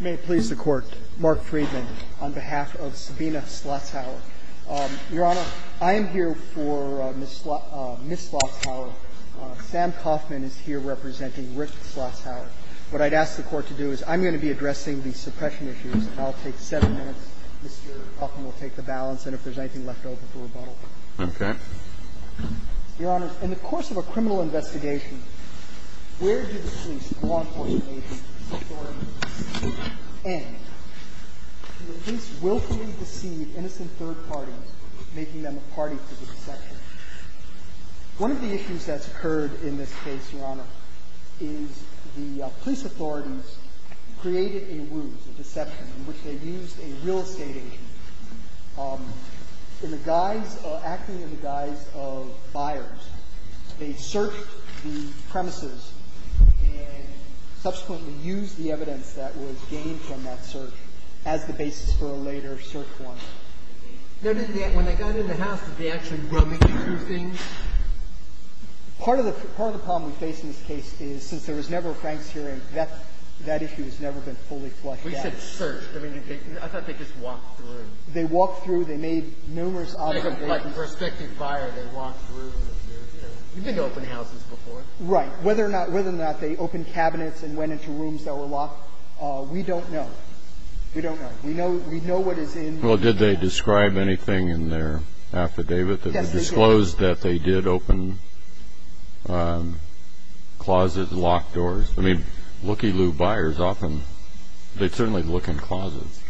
May it please the Court, Mark Friedman on behalf of Sabina Schlotzhauer. Your Honor, I am here for Ms. Schlotzhauer. Sam Kaufman is here representing Rick Schlotzhauer. What I'd ask the Court to do is I'm going to be addressing the suppression issues, and I'll take seven minutes. Mr. Kaufman will take the balance, and if there's anything left over for rebuttal. Okay. Your Honor, in the course of a criminal investigation, where do the police, law enforcement agents, police authorities end? Do the police willfully deceive innocent third parties, making them a party to the deception? One of the issues that's occurred in this case, Your Honor, is the police authorities created a ruse, a deception, in which they used a real estate agent. In the guise, acting in the guise of buyers, they searched the premises and subsequently used the evidence that was gained from that search as the basis for a later search warrant. When they got in the house, did they actually run into things? Part of the problem we face in this case is since there was never a Frank's hearing, that issue has never been fully flushed out. We said searched. I thought they just walked through. They walked through. They made numerous observations. Like a prospective buyer, they walked through. You've been to open houses before. Right. Whether or not they opened cabinets and went into rooms that were locked, we don't know. We don't know. We know what is in the evidence. Well, did they describe anything in their affidavit that disclosed that they did open closets, locked doors? I mean, looky-loo buyers often, they certainly look in closets.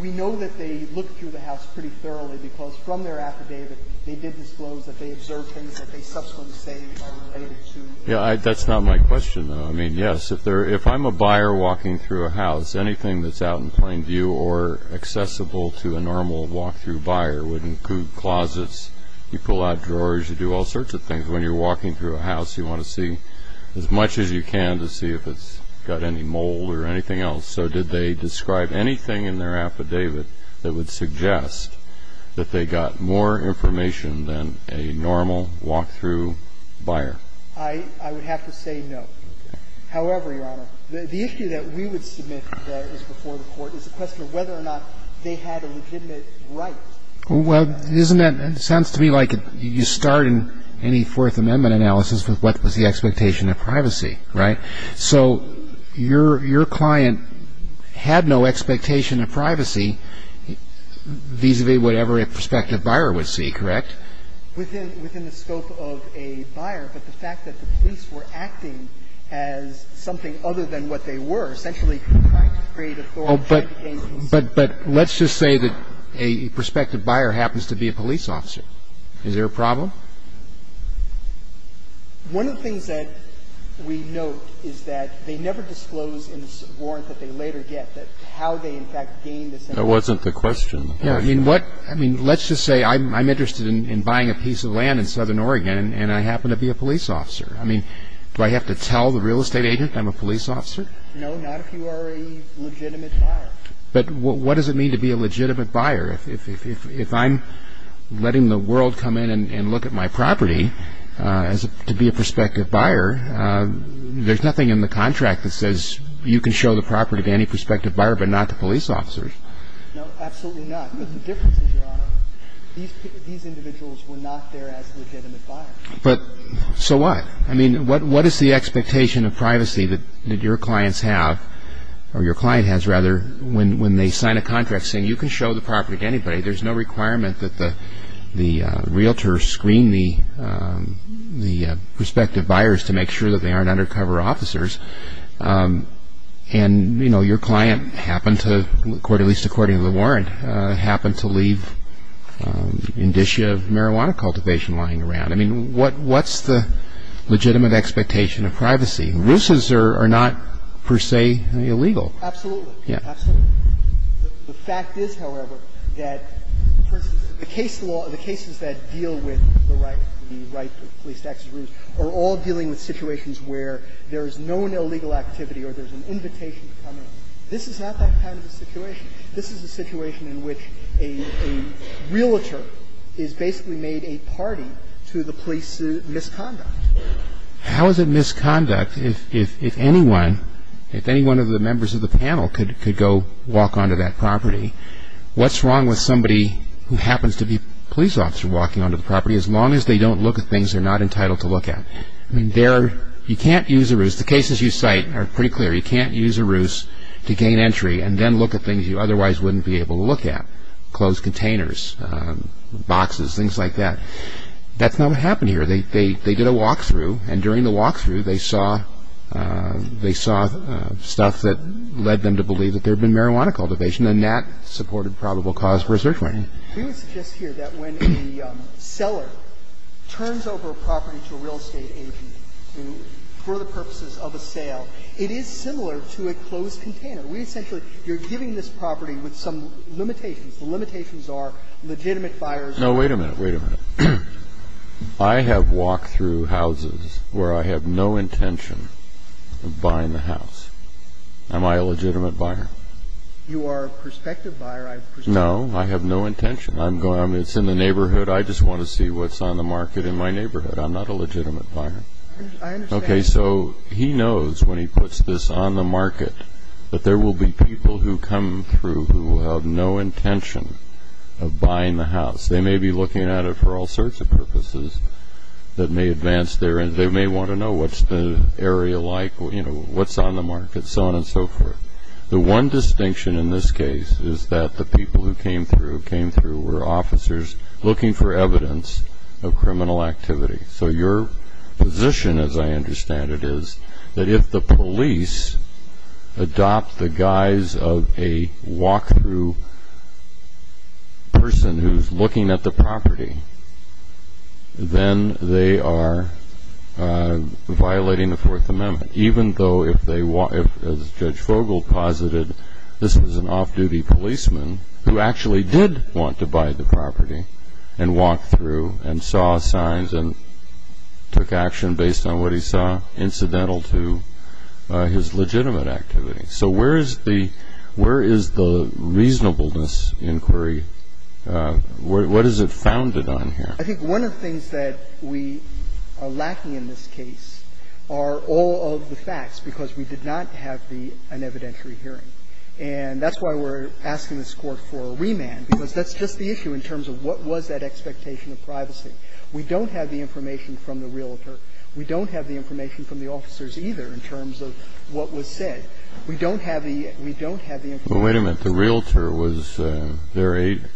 We know that they looked through the house pretty thoroughly because from their affidavit, they did disclose that they observed things that they subsequently say are related to... Yeah, that's not my question, though. I mean, yes, if I'm a buyer walking through a house, anything that's out in plain view or accessible to a normal walk-through buyer would include closets. You pull out drawers. You do all sorts of things. When you're walking through a house, you want to see as much as you can to see if it's got any mold or anything else. So did they describe anything in their affidavit that would suggest that they got more information than a normal walk-through buyer? I would have to say no. However, Your Honor, the issue that we would submit that is before the Court is the question of whether or not they had a legitimate right. Well, isn't that – it sounds to me like you start in any Fourth Amendment analysis with what was the expectation of privacy, right? So your client had no expectation of privacy vis-à-vis whatever a prospective buyer would see, correct? Within the scope of a buyer, but the fact that the police were acting as something other than what they were, essentially trying to create authority... But let's just say that a prospective buyer happens to be a police officer. Is there a problem? One of the things that we note is that they never disclose in this warrant that they later get that how they in fact gained this information. That wasn't the question. Yeah. I mean, what – I mean, let's just say I'm interested in buying a piece of land in Southern Oregon and I happen to be a police officer. I mean, do I have to tell the real estate agent I'm a police officer? No, not if you are a legitimate buyer. But what does it mean to be a legitimate buyer? If I'm letting the world come in and look at my property to be a prospective buyer, there's nothing in the contract that says you can show the property to any prospective buyer but not to police officers. No, absolutely not. But the difference is, Your Honor, these individuals were not there as legitimate buyers. But – so what? I mean, what is the expectation of privacy that your clients have – or your client has, rather, when they sign a contract saying you can show the property to anybody. There's no requirement that the realtors screen the prospective buyers to make sure that they aren't undercover officers. And, you know, your client happened to, at least according to the warrant, happened to leave an indicia of marijuana cultivation lying around. I mean, what's the legitimate expectation of privacy? The law says that you can't show the property to anybody. You can't show the property to anybody. The rules are not per se illegal. Absolutely. Absolutely. The fact is, however, that the case law – the cases that deal with the right, the right to police access rules, are all dealing with situations where there is no illegal activity or there's an invitation to come in. This is not that kind of a situation. This is a situation in which a realtor has basically made a party to the police misconduct. How is it misconduct if anyone – if any one of the members of the panel could go walk onto that property? What's wrong with somebody who happens to be a police officer walking onto the property, as long as they don't look at things they're not entitled to look at? I mean, there – you can't use a ruse. The cases you cite are pretty clear. You can't use a ruse to gain entry and then look at things you otherwise wouldn't be able to look at, closed containers, boxes, things like that. That's not what happened here. They did a walk-through, and during the walk-through, they saw stuff that led them to believe that there had been marijuana cultivation, and that supported probable cause for a search warrant. We would suggest here that when a seller turns over a property to a real estate agent for the purposes of a sale, it is similar to a closed container. We essentially – you're giving this property with some limitations. The limitations are legitimate buyers. No, wait a minute. Wait a minute. I have walked through houses where I have no intention of buying the house. Am I a legitimate buyer? You are a prospective buyer. I presume. No. I have no intention. I'm going – it's in the neighborhood. I just want to see what's on the market in my neighborhood. I'm not a legitimate buyer. I understand. Okay, so he knows when he puts this on the market that there will be people who come through who have no intention of buying the house. They may be looking at it for all sorts of purposes that may advance their – they may want to know what's the area like, what's on the market, so on and so forth. The one distinction in this case is that the people who came through were officers looking for evidence of criminal activity. So your position, as I understand it, is that if the police adopt the guise of a walk-through person who's looking at the property, then they are violating the Fourth Amendment, even though if they – as Judge Fogel posited, this was an off-duty policeman who actually did want to buy the property and walked through and saw signs and took action based on what he saw incidental to his legitimate activity. So where is the – where is the reasonableness inquiry? What is it founded on here? I think one of the things that we are lacking in this case are all of the facts because we did not have the evidentiary hearing. And that's why we're asking this Court for a remand, because that's just the issue in terms of what was that expectation of privacy. We don't have the information from the realtor. We don't have the information from the officers either in terms of what was said. We don't have the – we don't have the information. Kennedy. Well, wait a minute. The realtor was their agent,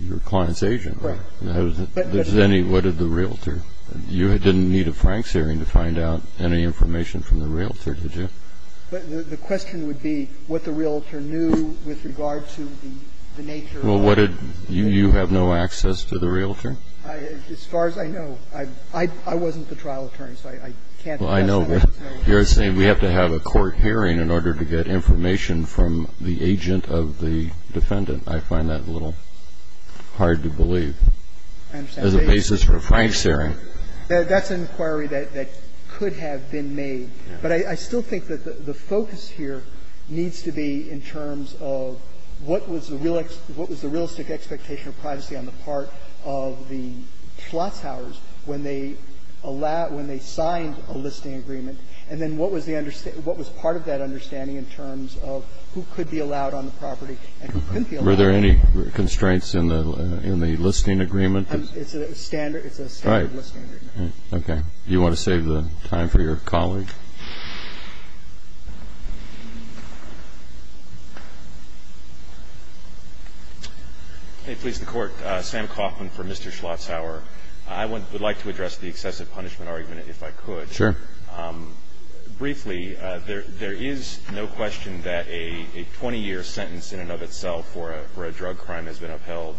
your client's agent. Right. But there's any – what did the realtor – you didn't need a Franks hearing to find out any information from the realtor, did you? The question would be what the realtor knew with regard to the nature of the case. Well, what did – you have no access to the realtor? As far as I know. I wasn't the trial attorney, so I can't address that. I know. But you're saying we have to have a court hearing in order to get information from the agent of the defendant. I find that a little hard to believe. I understand. As a basis for a Franks hearing. That's an inquiry that could have been made. But I still think that the focus here needs to be in terms of what was the real – what was the realistic expectation of privacy on the part of the Schlotzhauers when they allowed – when they signed a listing agreement, and then what was the – what was part of that understanding in terms of who could be allowed on the property and who couldn't be allowed on the property. Were there any constraints in the listing agreement? It's a standard – it's a standard listing agreement. Right. Do you want to save the time for your colleague? May it please the Court. Sam Kaufman for Mr. Schlotzhauer. I would like to address the excessive punishment argument, if I could. Sure. Briefly, there is no question that a 20-year sentence in and of itself for a drug crime has been upheld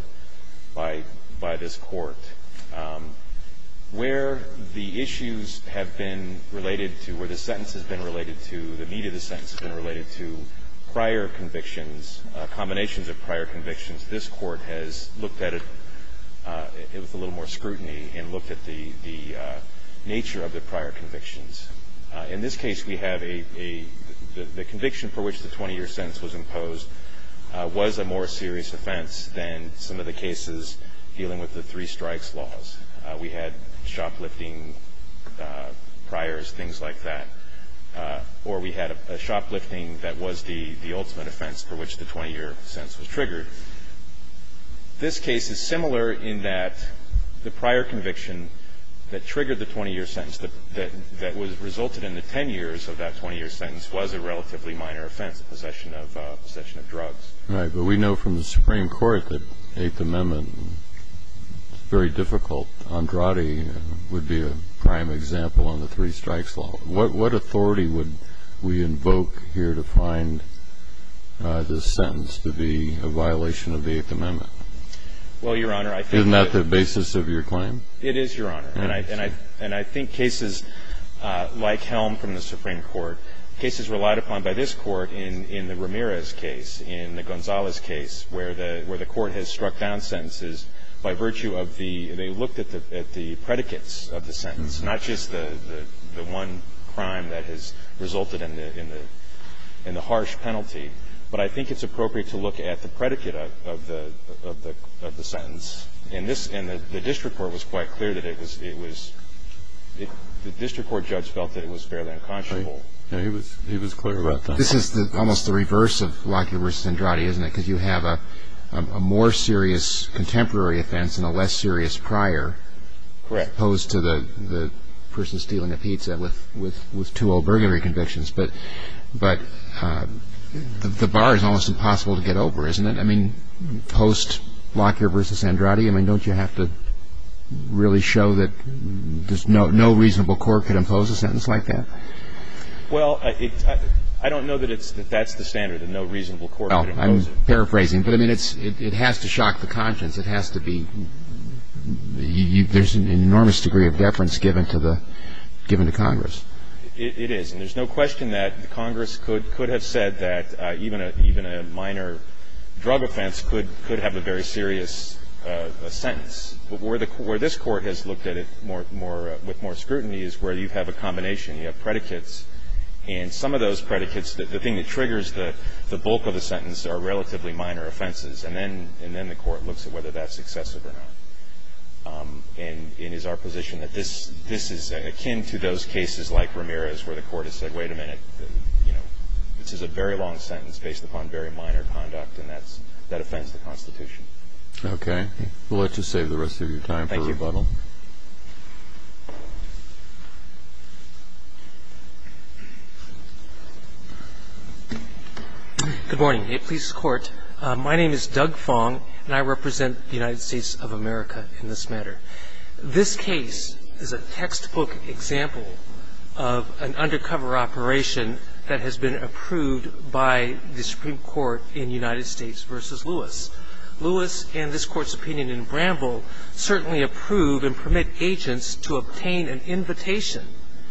by this Court. Where the issues have been related to, where the sentence has been related to, the meat of the sentence has been related to prior convictions, combinations of prior convictions, this Court has looked at it with a little more scrutiny and looked at the nature of the prior convictions. In this case, we have a – the conviction for which the 20-year sentence was imposed was a more serious offense than some of the cases dealing with the three strikes laws. We had shoplifting priors, things like that. Or we had a shoplifting that was the ultimate offense for which the 20-year sentence was triggered. This case is similar in that the prior conviction that triggered the 20-year sentence that resulted in the 10 years of that 20-year sentence was a relatively minor offense, a possession of drugs. Right. But we know from the Supreme Court that the Eighth Amendment is very difficult. Andrade would be a prime example on the three strikes law. What authority would we invoke here to find this sentence to be a violation of the Eighth Amendment? Well, Your Honor, I think that – Isn't that the basis of your claim? It is, Your Honor. And I think cases like Helm from the Supreme Court, cases relied upon by this Court in the Ramirez case, in the Gonzalez case, where the Court has struck down sentences by virtue of the – they looked at the predicates of the sentence, not just the one crime that has resulted in the harsh penalty. But I think it's appropriate to look at the predicate of the sentence. And the district court was quite clear that it was – the district court judge felt that it was fairly unconscionable. He was clear about that. But this is almost the reverse of Lockyer v. Andrade, isn't it? Because you have a more serious contemporary offense and a less serious prior. Correct. As opposed to the person stealing a pizza with two old burglary convictions. But the bar is almost impossible to get over, isn't it? I mean, post-Lockyer v. Andrade, I mean, don't you have to really show that there's no reasonable court could impose a sentence like that? Well, I don't know that it's – that that's the standard, that no reasonable court could impose it. Well, I'm paraphrasing. But, I mean, it has to shock the conscience. It has to be – there's an enormous degree of deference given to the – given to Congress. It is. And there's no question that Congress could have said that even a minor drug offense could have a very serious sentence. Where this Court has looked at it more – with more scrutiny is where you have a combination. You have predicates. And some of those predicates – the thing that triggers the bulk of the sentence are relatively minor offenses. And then the Court looks at whether that's excessive or not. And it is our position that this is akin to those cases like Ramirez where the Court has said, wait a minute, you know, this is a very long sentence based upon very minor conduct, and that's – that offends the Constitution. Okay. Thank you. Good morning. May it please the Court. My name is Doug Fong, and I represent the United States of America in this matter. This case is a textbook example of an undercover operation that has been approved by the Supreme Court in United States v. Lewis. Lewis and this Court's opinion in Bramble certainly approve and permit agents to obtain an invitation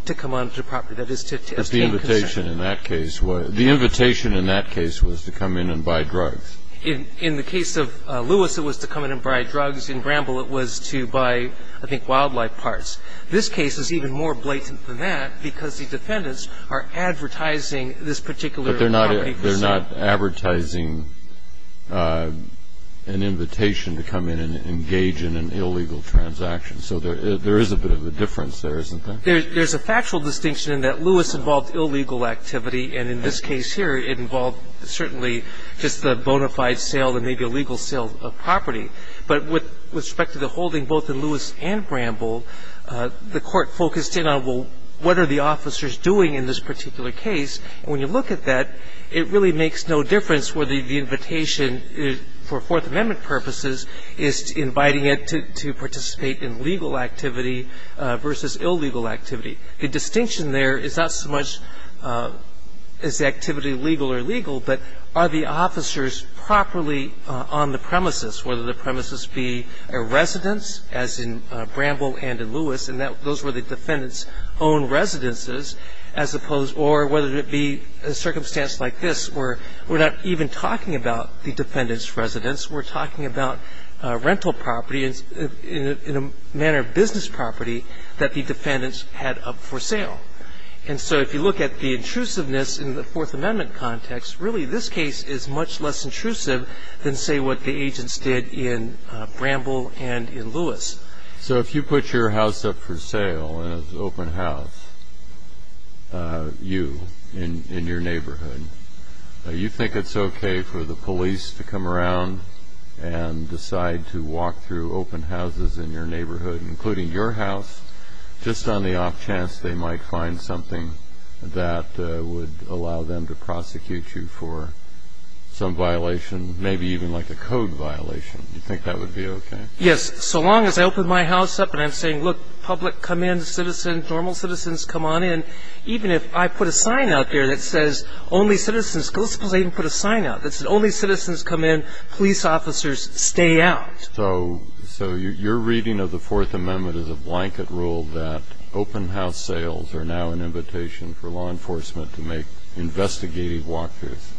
to come onto the property. That is to obtain consent. But the invitation in that case was – the invitation in that case was to come in and buy drugs. In the case of Lewis, it was to come in and buy drugs. In Bramble, it was to buy, I think, wildlife parts. This case is even more blatant than that because the defendants are advertising this particular property for sale. But they're not advertising an invitation to come in and engage in an illegal transaction. So there is a bit of a difference there, isn't there? There's a factual distinction in that Lewis involved illegal activity. And in this case here, it involved certainly just a bona fide sale and maybe a legal sale of property. But with respect to the holding both in Lewis and Bramble, the Court focused in on, well, what are the officers doing in this particular case? And when you look at that, it really makes no difference whether the invitation for Fourth Amendment purposes is inviting it to participate in legal activity versus illegal activity. The distinction there is not so much is the activity legal or illegal, but are the officers properly on the premises, whether the premises be a residence, as in Bramble and in Lewis, and those were the defendants' own residences, as opposed – or whether it be a circumstance like this where we're not even talking about the defendant's residence. We're talking about rental property in a manner of business property that the defendants had up for sale. And so if you look at the intrusiveness in the Fourth Amendment context, really this case is much less intrusive than, say, what the agents did in Bramble and in Lewis. So if you put your house up for sale in an open house, you, in your neighborhood, you think it's okay for the police to come around and decide to walk through open houses in your neighborhood, including your house, just on the off chance they might find something that would allow them to prosecute you for some violation, maybe even like a code violation, you think that would be okay? Yes. So long as I open my house up and I'm saying, look, public, come in, citizens, normal citizens, come on in, even if I put a sign out there that says, only citizens go, suppose I even put a sign out that said, only citizens come in, police officers stay out. So your reading of the Fourth Amendment is a blanket rule that open house sales are now an invitation for law enforcement to make investigative walk-throughs?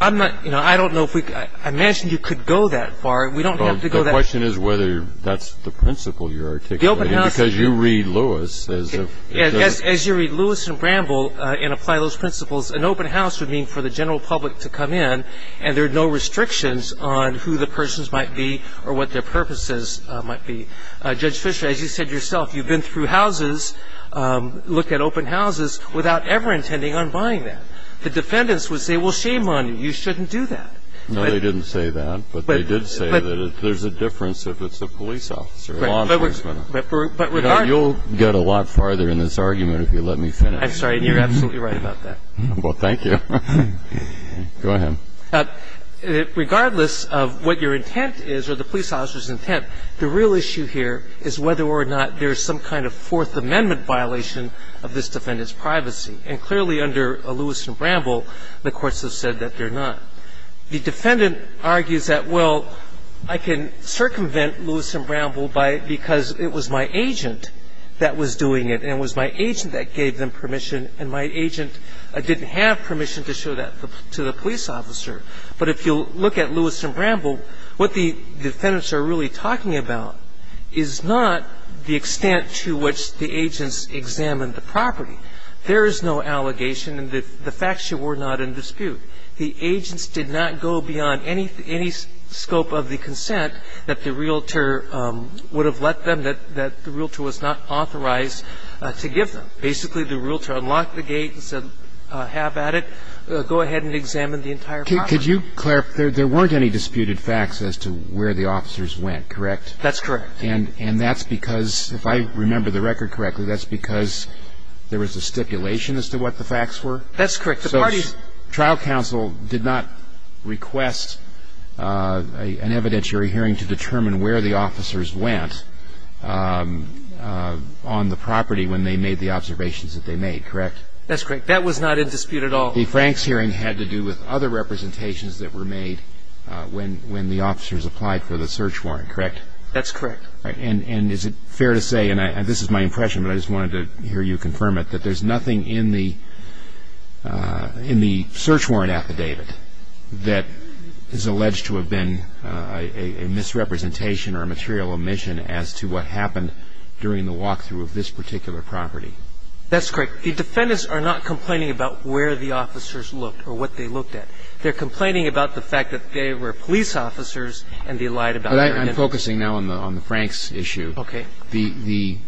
I'm not – you know, I don't know if we – I imagine you could go that far. We don't have to go that far. The question is whether that's the principle you're articulating because you read Lewis as if – As you read Lewis and Bramble and apply those principles, an open house would mean for the general public to come in and there are no restrictions on who the persons might be or what their purposes might be. Judge Fisher, as you said yourself, you've been through houses, looked at open houses, without ever intending on buying that. The defendants would say, well, shame on you, you shouldn't do that. No, they didn't say that, but they did say that. There's a difference if it's a police officer, law enforcement. But regardless – You'll get a lot farther in this argument if you let me finish. I'm sorry. You're absolutely right about that. Well, thank you. Go ahead. Regardless of what your intent is or the police officer's intent, the real issue here is whether or not there is some kind of Fourth Amendment violation of this defendant's privacy. And clearly under Lewis and Bramble, the courts have said that they're not. The defendant argues that, well, I can circumvent Lewis and Bramble by – because it was my agent that was doing it and it was my agent that gave them permission and my agent didn't have permission to show that to the police officer. But if you look at Lewis and Bramble, what the defendants are really talking about is not the extent to which the agents examined the property. There is no allegation and the facts were not in dispute. The agents did not go beyond any scope of the consent that the realtor would have let them that the realtor was not authorized to give them. Basically, the realtor unlocked the gate and said, have at it. Go ahead and examine the entire property. Could you clarify? There weren't any disputed facts as to where the officers went, correct? That's correct. And that's because, if I remember the record correctly, that's because there was a stipulation as to what the facts were? That's correct. The parties – So trial counsel did not request an evidentiary hearing to determine where the officers went on the property when they made the observations that they made, correct? That's correct. That was not in dispute at all. The Franks hearing had to do with other representations that were made when the officers applied for the search warrant, correct? That's correct. And is it fair to say, and this is my impression, but I just wanted to hear you confirm it, that there's nothing in the search warrant affidavit that is alleged to have been a misrepresentation or a material omission as to what happened during the walk-through of this particular property? That's correct. The defendants are not complaining about where the officers looked or what they looked at. They're complaining about the fact that they were police officers and they lied about their identity. But I'm focusing now on the Franks issue. Okay. The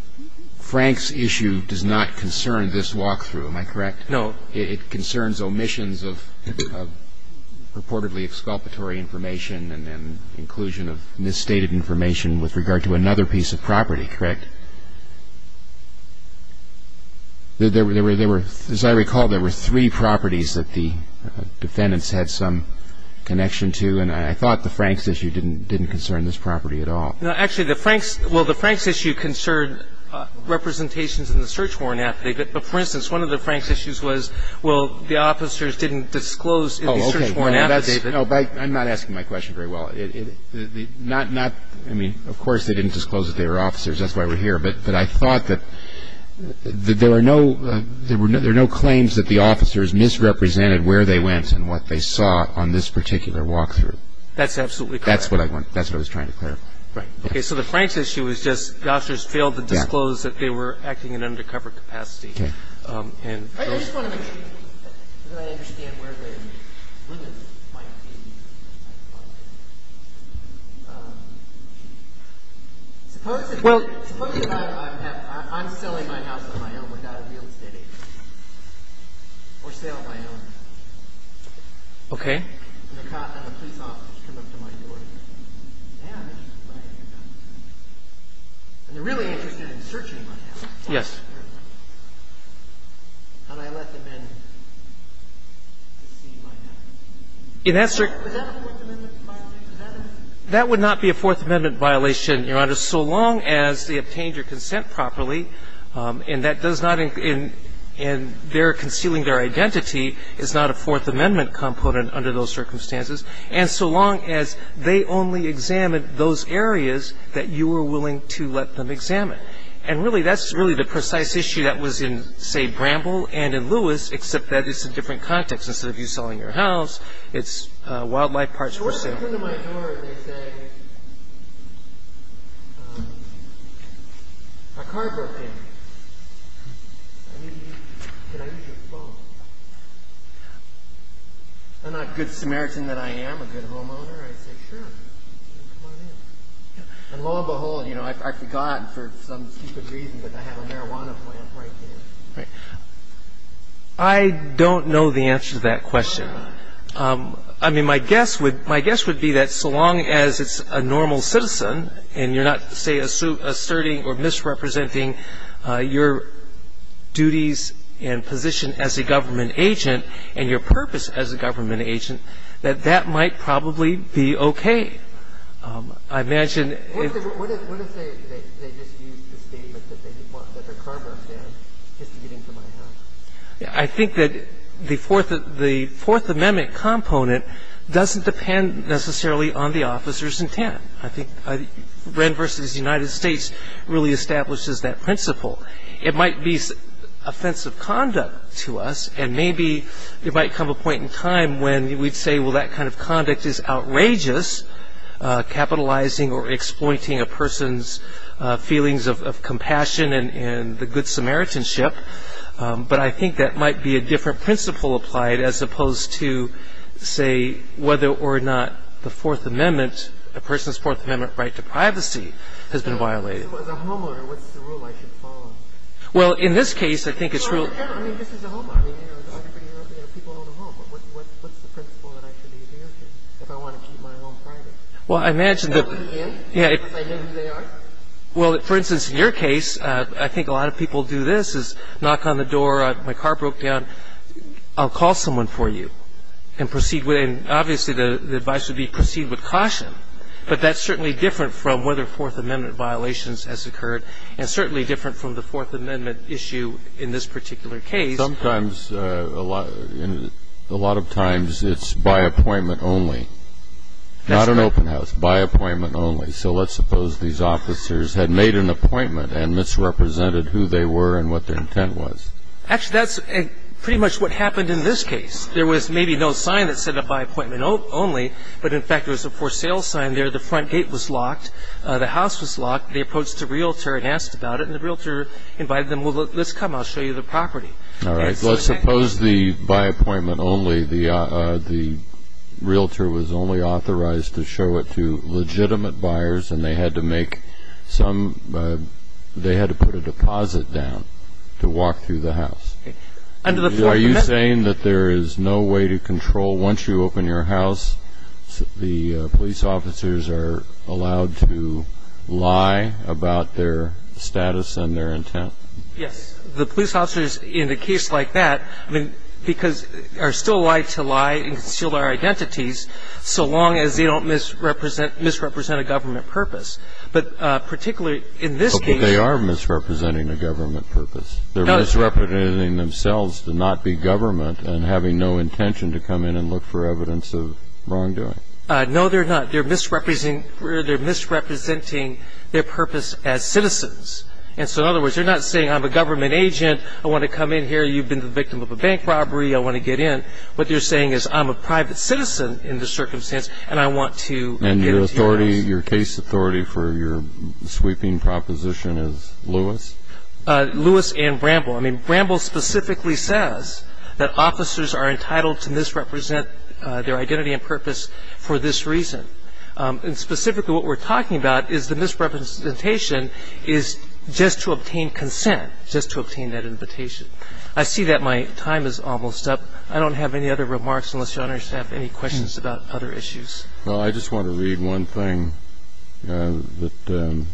Franks issue does not concern this walk-through. Am I correct? No. It concerns omissions of purportedly exculpatory information and inclusion of misstated information with regard to another piece of property, correct? As I recall, there were three properties that the defendants had some connection to, and I thought the Franks issue didn't concern this property at all. No. Actually, the Franks – well, the Franks issue concerned representations in the search warrant affidavit. But, for instance, one of the Franks issues was, well, the officers didn't disclose in the search warrant affidavit. Oh, okay. No, but I'm not asking my question very well. Not – I mean, of course they didn't disclose that they were officers. That's why we're here. But I thought that there were no – there are no claims that the officers misrepresented where they went and what they saw on this particular walk-through. That's absolutely correct. That's what I want – that's what I was trying to clarify. Right. Okay. So the Franks issue was just the officers failed to disclose that they were acting in undercover capacity. Okay. And those – I just want to make sure that I understand where the women might be. Suppose that I'm selling my house on my own without a real estate agent or sale on my own. Okay. And the police officers come up to my door and say, I'm interested in buying your house, and they're really interested in searching my house. Yes. And I let them in to see my house. In that circumstance. Would that be a Fourth Amendment violation? That would not be a Fourth Amendment violation, Your Honor, so long as they obtained your consent properly, and that does not in their concealing their identity is not a Fourth Amendment component under those circumstances, and so long as they only examined those areas that you were willing to let them examine. And really, that's really the precise issue that was in, say, Bramble and in Lewis, except that it's a different context. Instead of you selling your house, it's wildlife parks for sale. So when they come to my door, they say, my car broke down. Can I use your phone? I'm not a good Samaritan that I am. I'm a good homeowner. I say, sure. Come on in. And lo and behold, you know, I forgot for some stupid reason that I have a marijuana plant right there. Right. I don't know the answer to that question. I mean, my guess would be that so long as it's a normal citizen and you're not, say, asserting or misrepresenting your duties and position as a government agent and your purpose as a government agent, that that might probably be okay. I imagine if- What if they just used the statement that their car broke down just to get into my house? I think that the Fourth Amendment component doesn't depend necessarily on the officer's intent. I think Wren v. United States really establishes that principle. It might be offensive conduct to us, and maybe there might come a point in time when we'd say, well, that kind of conduct is outrageous, capitalizing or exploiting a person's feelings of compassion and the good Samaritanship. But I think that might be a different principle applied as opposed to, say, whether or not the Fourth Amendment, a person's Fourth Amendment right to privacy, has been violated. As a homeowner, what's the rule I should follow? Well, in this case, I think it's- I mean, this is a homeowner. I mean, you know, people own a home. What's the principle that I should be adhering to if I want to keep my home private? Well, I imagine that- Is that what he meant? Yes. Because I know who they are? Well, for instance, in your case, I think a lot of people do this, is knock on the door, my car broke down, I'll call someone for you and proceed with it. And obviously, the advice would be proceed with caution, but that's certainly different from whether Fourth Amendment violations has occurred and certainly different from the Fourth Amendment issue in this particular case. Sometimes a lot of times it's by appointment only. That's right. Not an open house. By appointment only. So let's suppose these officers had made an appointment and misrepresented who they were and what their intent was. Actually, that's pretty much what happened in this case. There was maybe no sign that said a by appointment only, but in fact, there was a for sale sign there. The front gate was locked. The house was locked. They approached a realtor and asked about it, and the realtor invited them, well, let's come, I'll show you the property. All right. Let's suppose the by appointment only, the realtor was only authorized to show it to legitimate buyers and they had to make some, they had to put a deposit down to walk through the house. Under the Fourth Amendment. Are you saying that there is no way to control, once you open your house, the status and their intent? Yes. The police officers in a case like that, I mean, because they're still allowed to lie and conceal their identities so long as they don't misrepresent a government purpose. But particularly in this case. But they are misrepresenting a government purpose. They're misrepresenting themselves to not be government and having no intention to come in and look for evidence of wrongdoing. No, they're not. They're misrepresenting their purpose as citizens. And so in other words, they're not saying I'm a government agent, I want to come in here, you've been the victim of a bank robbery, I want to get in. What they're saying is I'm a private citizen in this circumstance and I want to get into your house. And your authority, your case authority for your sweeping proposition is Lewis? Lewis and Bramble. I mean, Bramble specifically says that officers are entitled to misrepresent their identity and purpose for this reason. And specifically what we're talking about is the misrepresentation is just to obtain consent, just to obtain that invitation. I see that my time is almost up. I don't have any other remarks unless Your Honor has any questions about other issues. Well, I just want to read one thing that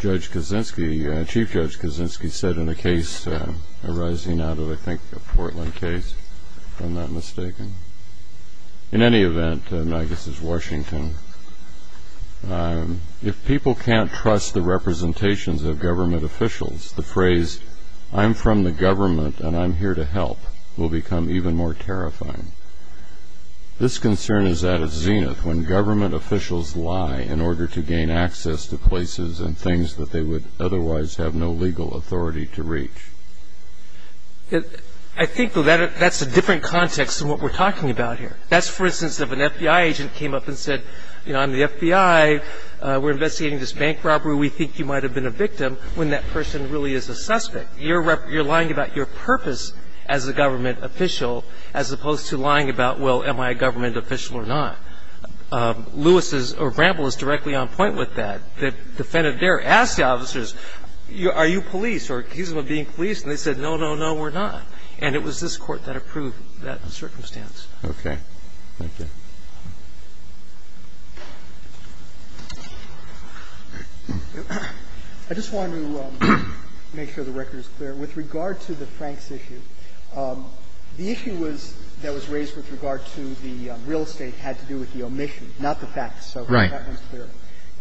Judge Kaczynski, Chief Judge Kaczynski, said in a case arising out of, I think, a Portland case, if I'm not mistaken. In any event, and I guess it's Washington, if people can't trust the representations of government officials, the phrase I'm from the government and I'm here to help will become even more terrifying. This concern is at its zenith when government officials lie in order to gain access to places and things that they would otherwise have no legal authority to reach. I think, though, that's a different context than what we're talking about here. That's, for instance, if an FBI agent came up and said, you know, I'm the FBI. We're investigating this bank robbery. We think you might have been a victim when that person really is a suspect. You're lying about your purpose as a government official as opposed to lying about, well, am I a government official or not? Lewis's or Bramble is directly on point with that. And I think the court's position is that this is a case where the defendant dared to ask the officers, are you police or accusing them of being police? And they said, no, no, no, we're not. And it was this Court that approved that circumstance. Roberts. Okay. Thank you. I just wanted to make sure the record is clear. With regard to the Franks issue, the issue that was raised with regard to the real estate had to do with the omission, not the facts. Right. So that one's clear.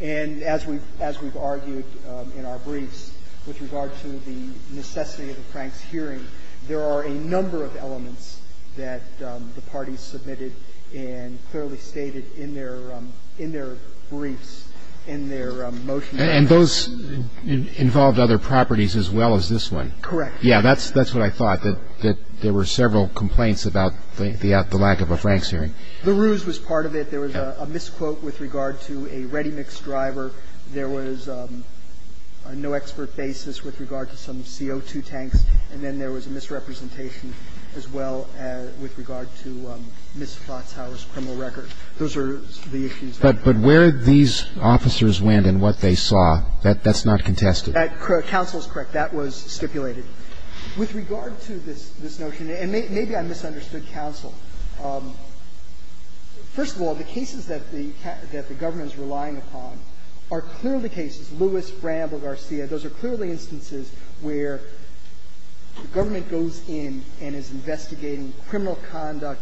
And as we've argued in our briefs, with regard to the necessity of the Franks hearing, there are a number of elements that the parties submitted and clearly stated in their briefs, in their motions. And those involved other properties as well as this one. Correct. Yeah. That's what I thought, that there were several complaints about the lack of a Franks hearing. The ruse was part of it. There was a misquote with regard to a ready-mix driver. There was no expert basis with regard to some CO2 tanks. And then there was a misrepresentation as well with regard to Ms. Flotsauer's criminal record. Those are the issues. But where these officers went and what they saw, that's not contested. Counsel is correct. That was stipulated. With regard to this notion, and maybe I misunderstood counsel. First of all, the cases that the government is relying upon are clearly cases, Lewis, Bramble, Garcia. Those are clearly instances where the government goes in and is investigating criminal conduct.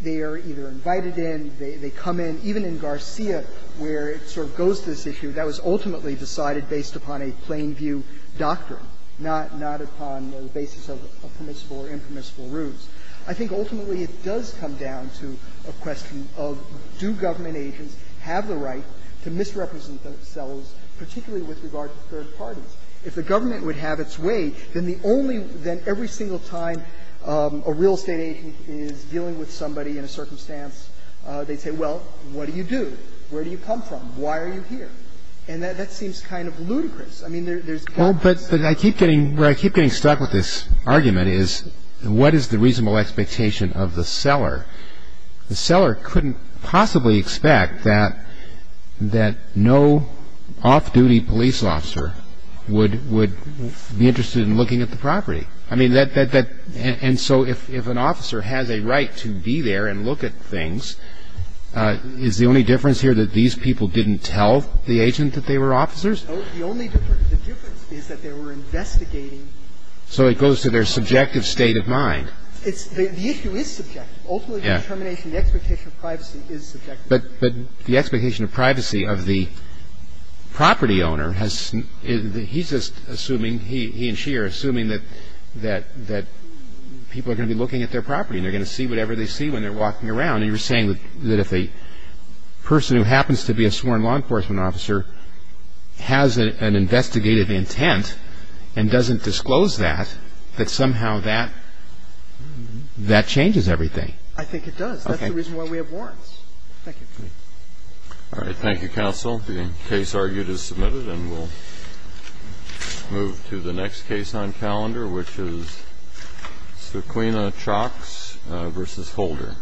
They are either invited in, they come in. Even in Garcia, where it sort of goes to this issue, that was ultimately decided based upon a plain view doctrine, not upon the basis of permissible or impermissible ruse. I think ultimately it does come down to a question of do government agents have the right to misrepresent themselves, particularly with regard to third parties. If the government would have its way, then the only – then every single time a real estate agent is dealing with somebody in a circumstance, they say, well, what do you do? Where do you come from? Why are you here? And that seems kind of ludicrous. I mean, there's – Well, but I keep getting – where I keep getting stuck with this argument is, what is the reasonable expectation of the seller? The seller couldn't possibly expect that no off-duty police officer would be able to – would be interested in looking at the property. I mean, that – and so if an officer has a right to be there and look at things, is the only difference here that these people didn't tell the agent that they were officers? The only difference – the difference is that they were investigating. So it goes to their subjective state of mind. It's – the issue is subjective. Ultimately, the determination, the expectation of privacy is subjective. But the expectation of privacy of the property owner has – he's just assuming, he and she are assuming that people are going to be looking at their property and they're going to see whatever they see when they're walking around. And you're saying that if a person who happens to be a sworn law enforcement officer has an investigative intent and doesn't disclose that, that somehow that – that changes everything. I think it does. That's the reason why we have warrants. Thank you. All right. Thank you, Counsel. The case argued is submitted and we'll move to the next case on calendar, which is Sequina-Chalks v. Holder.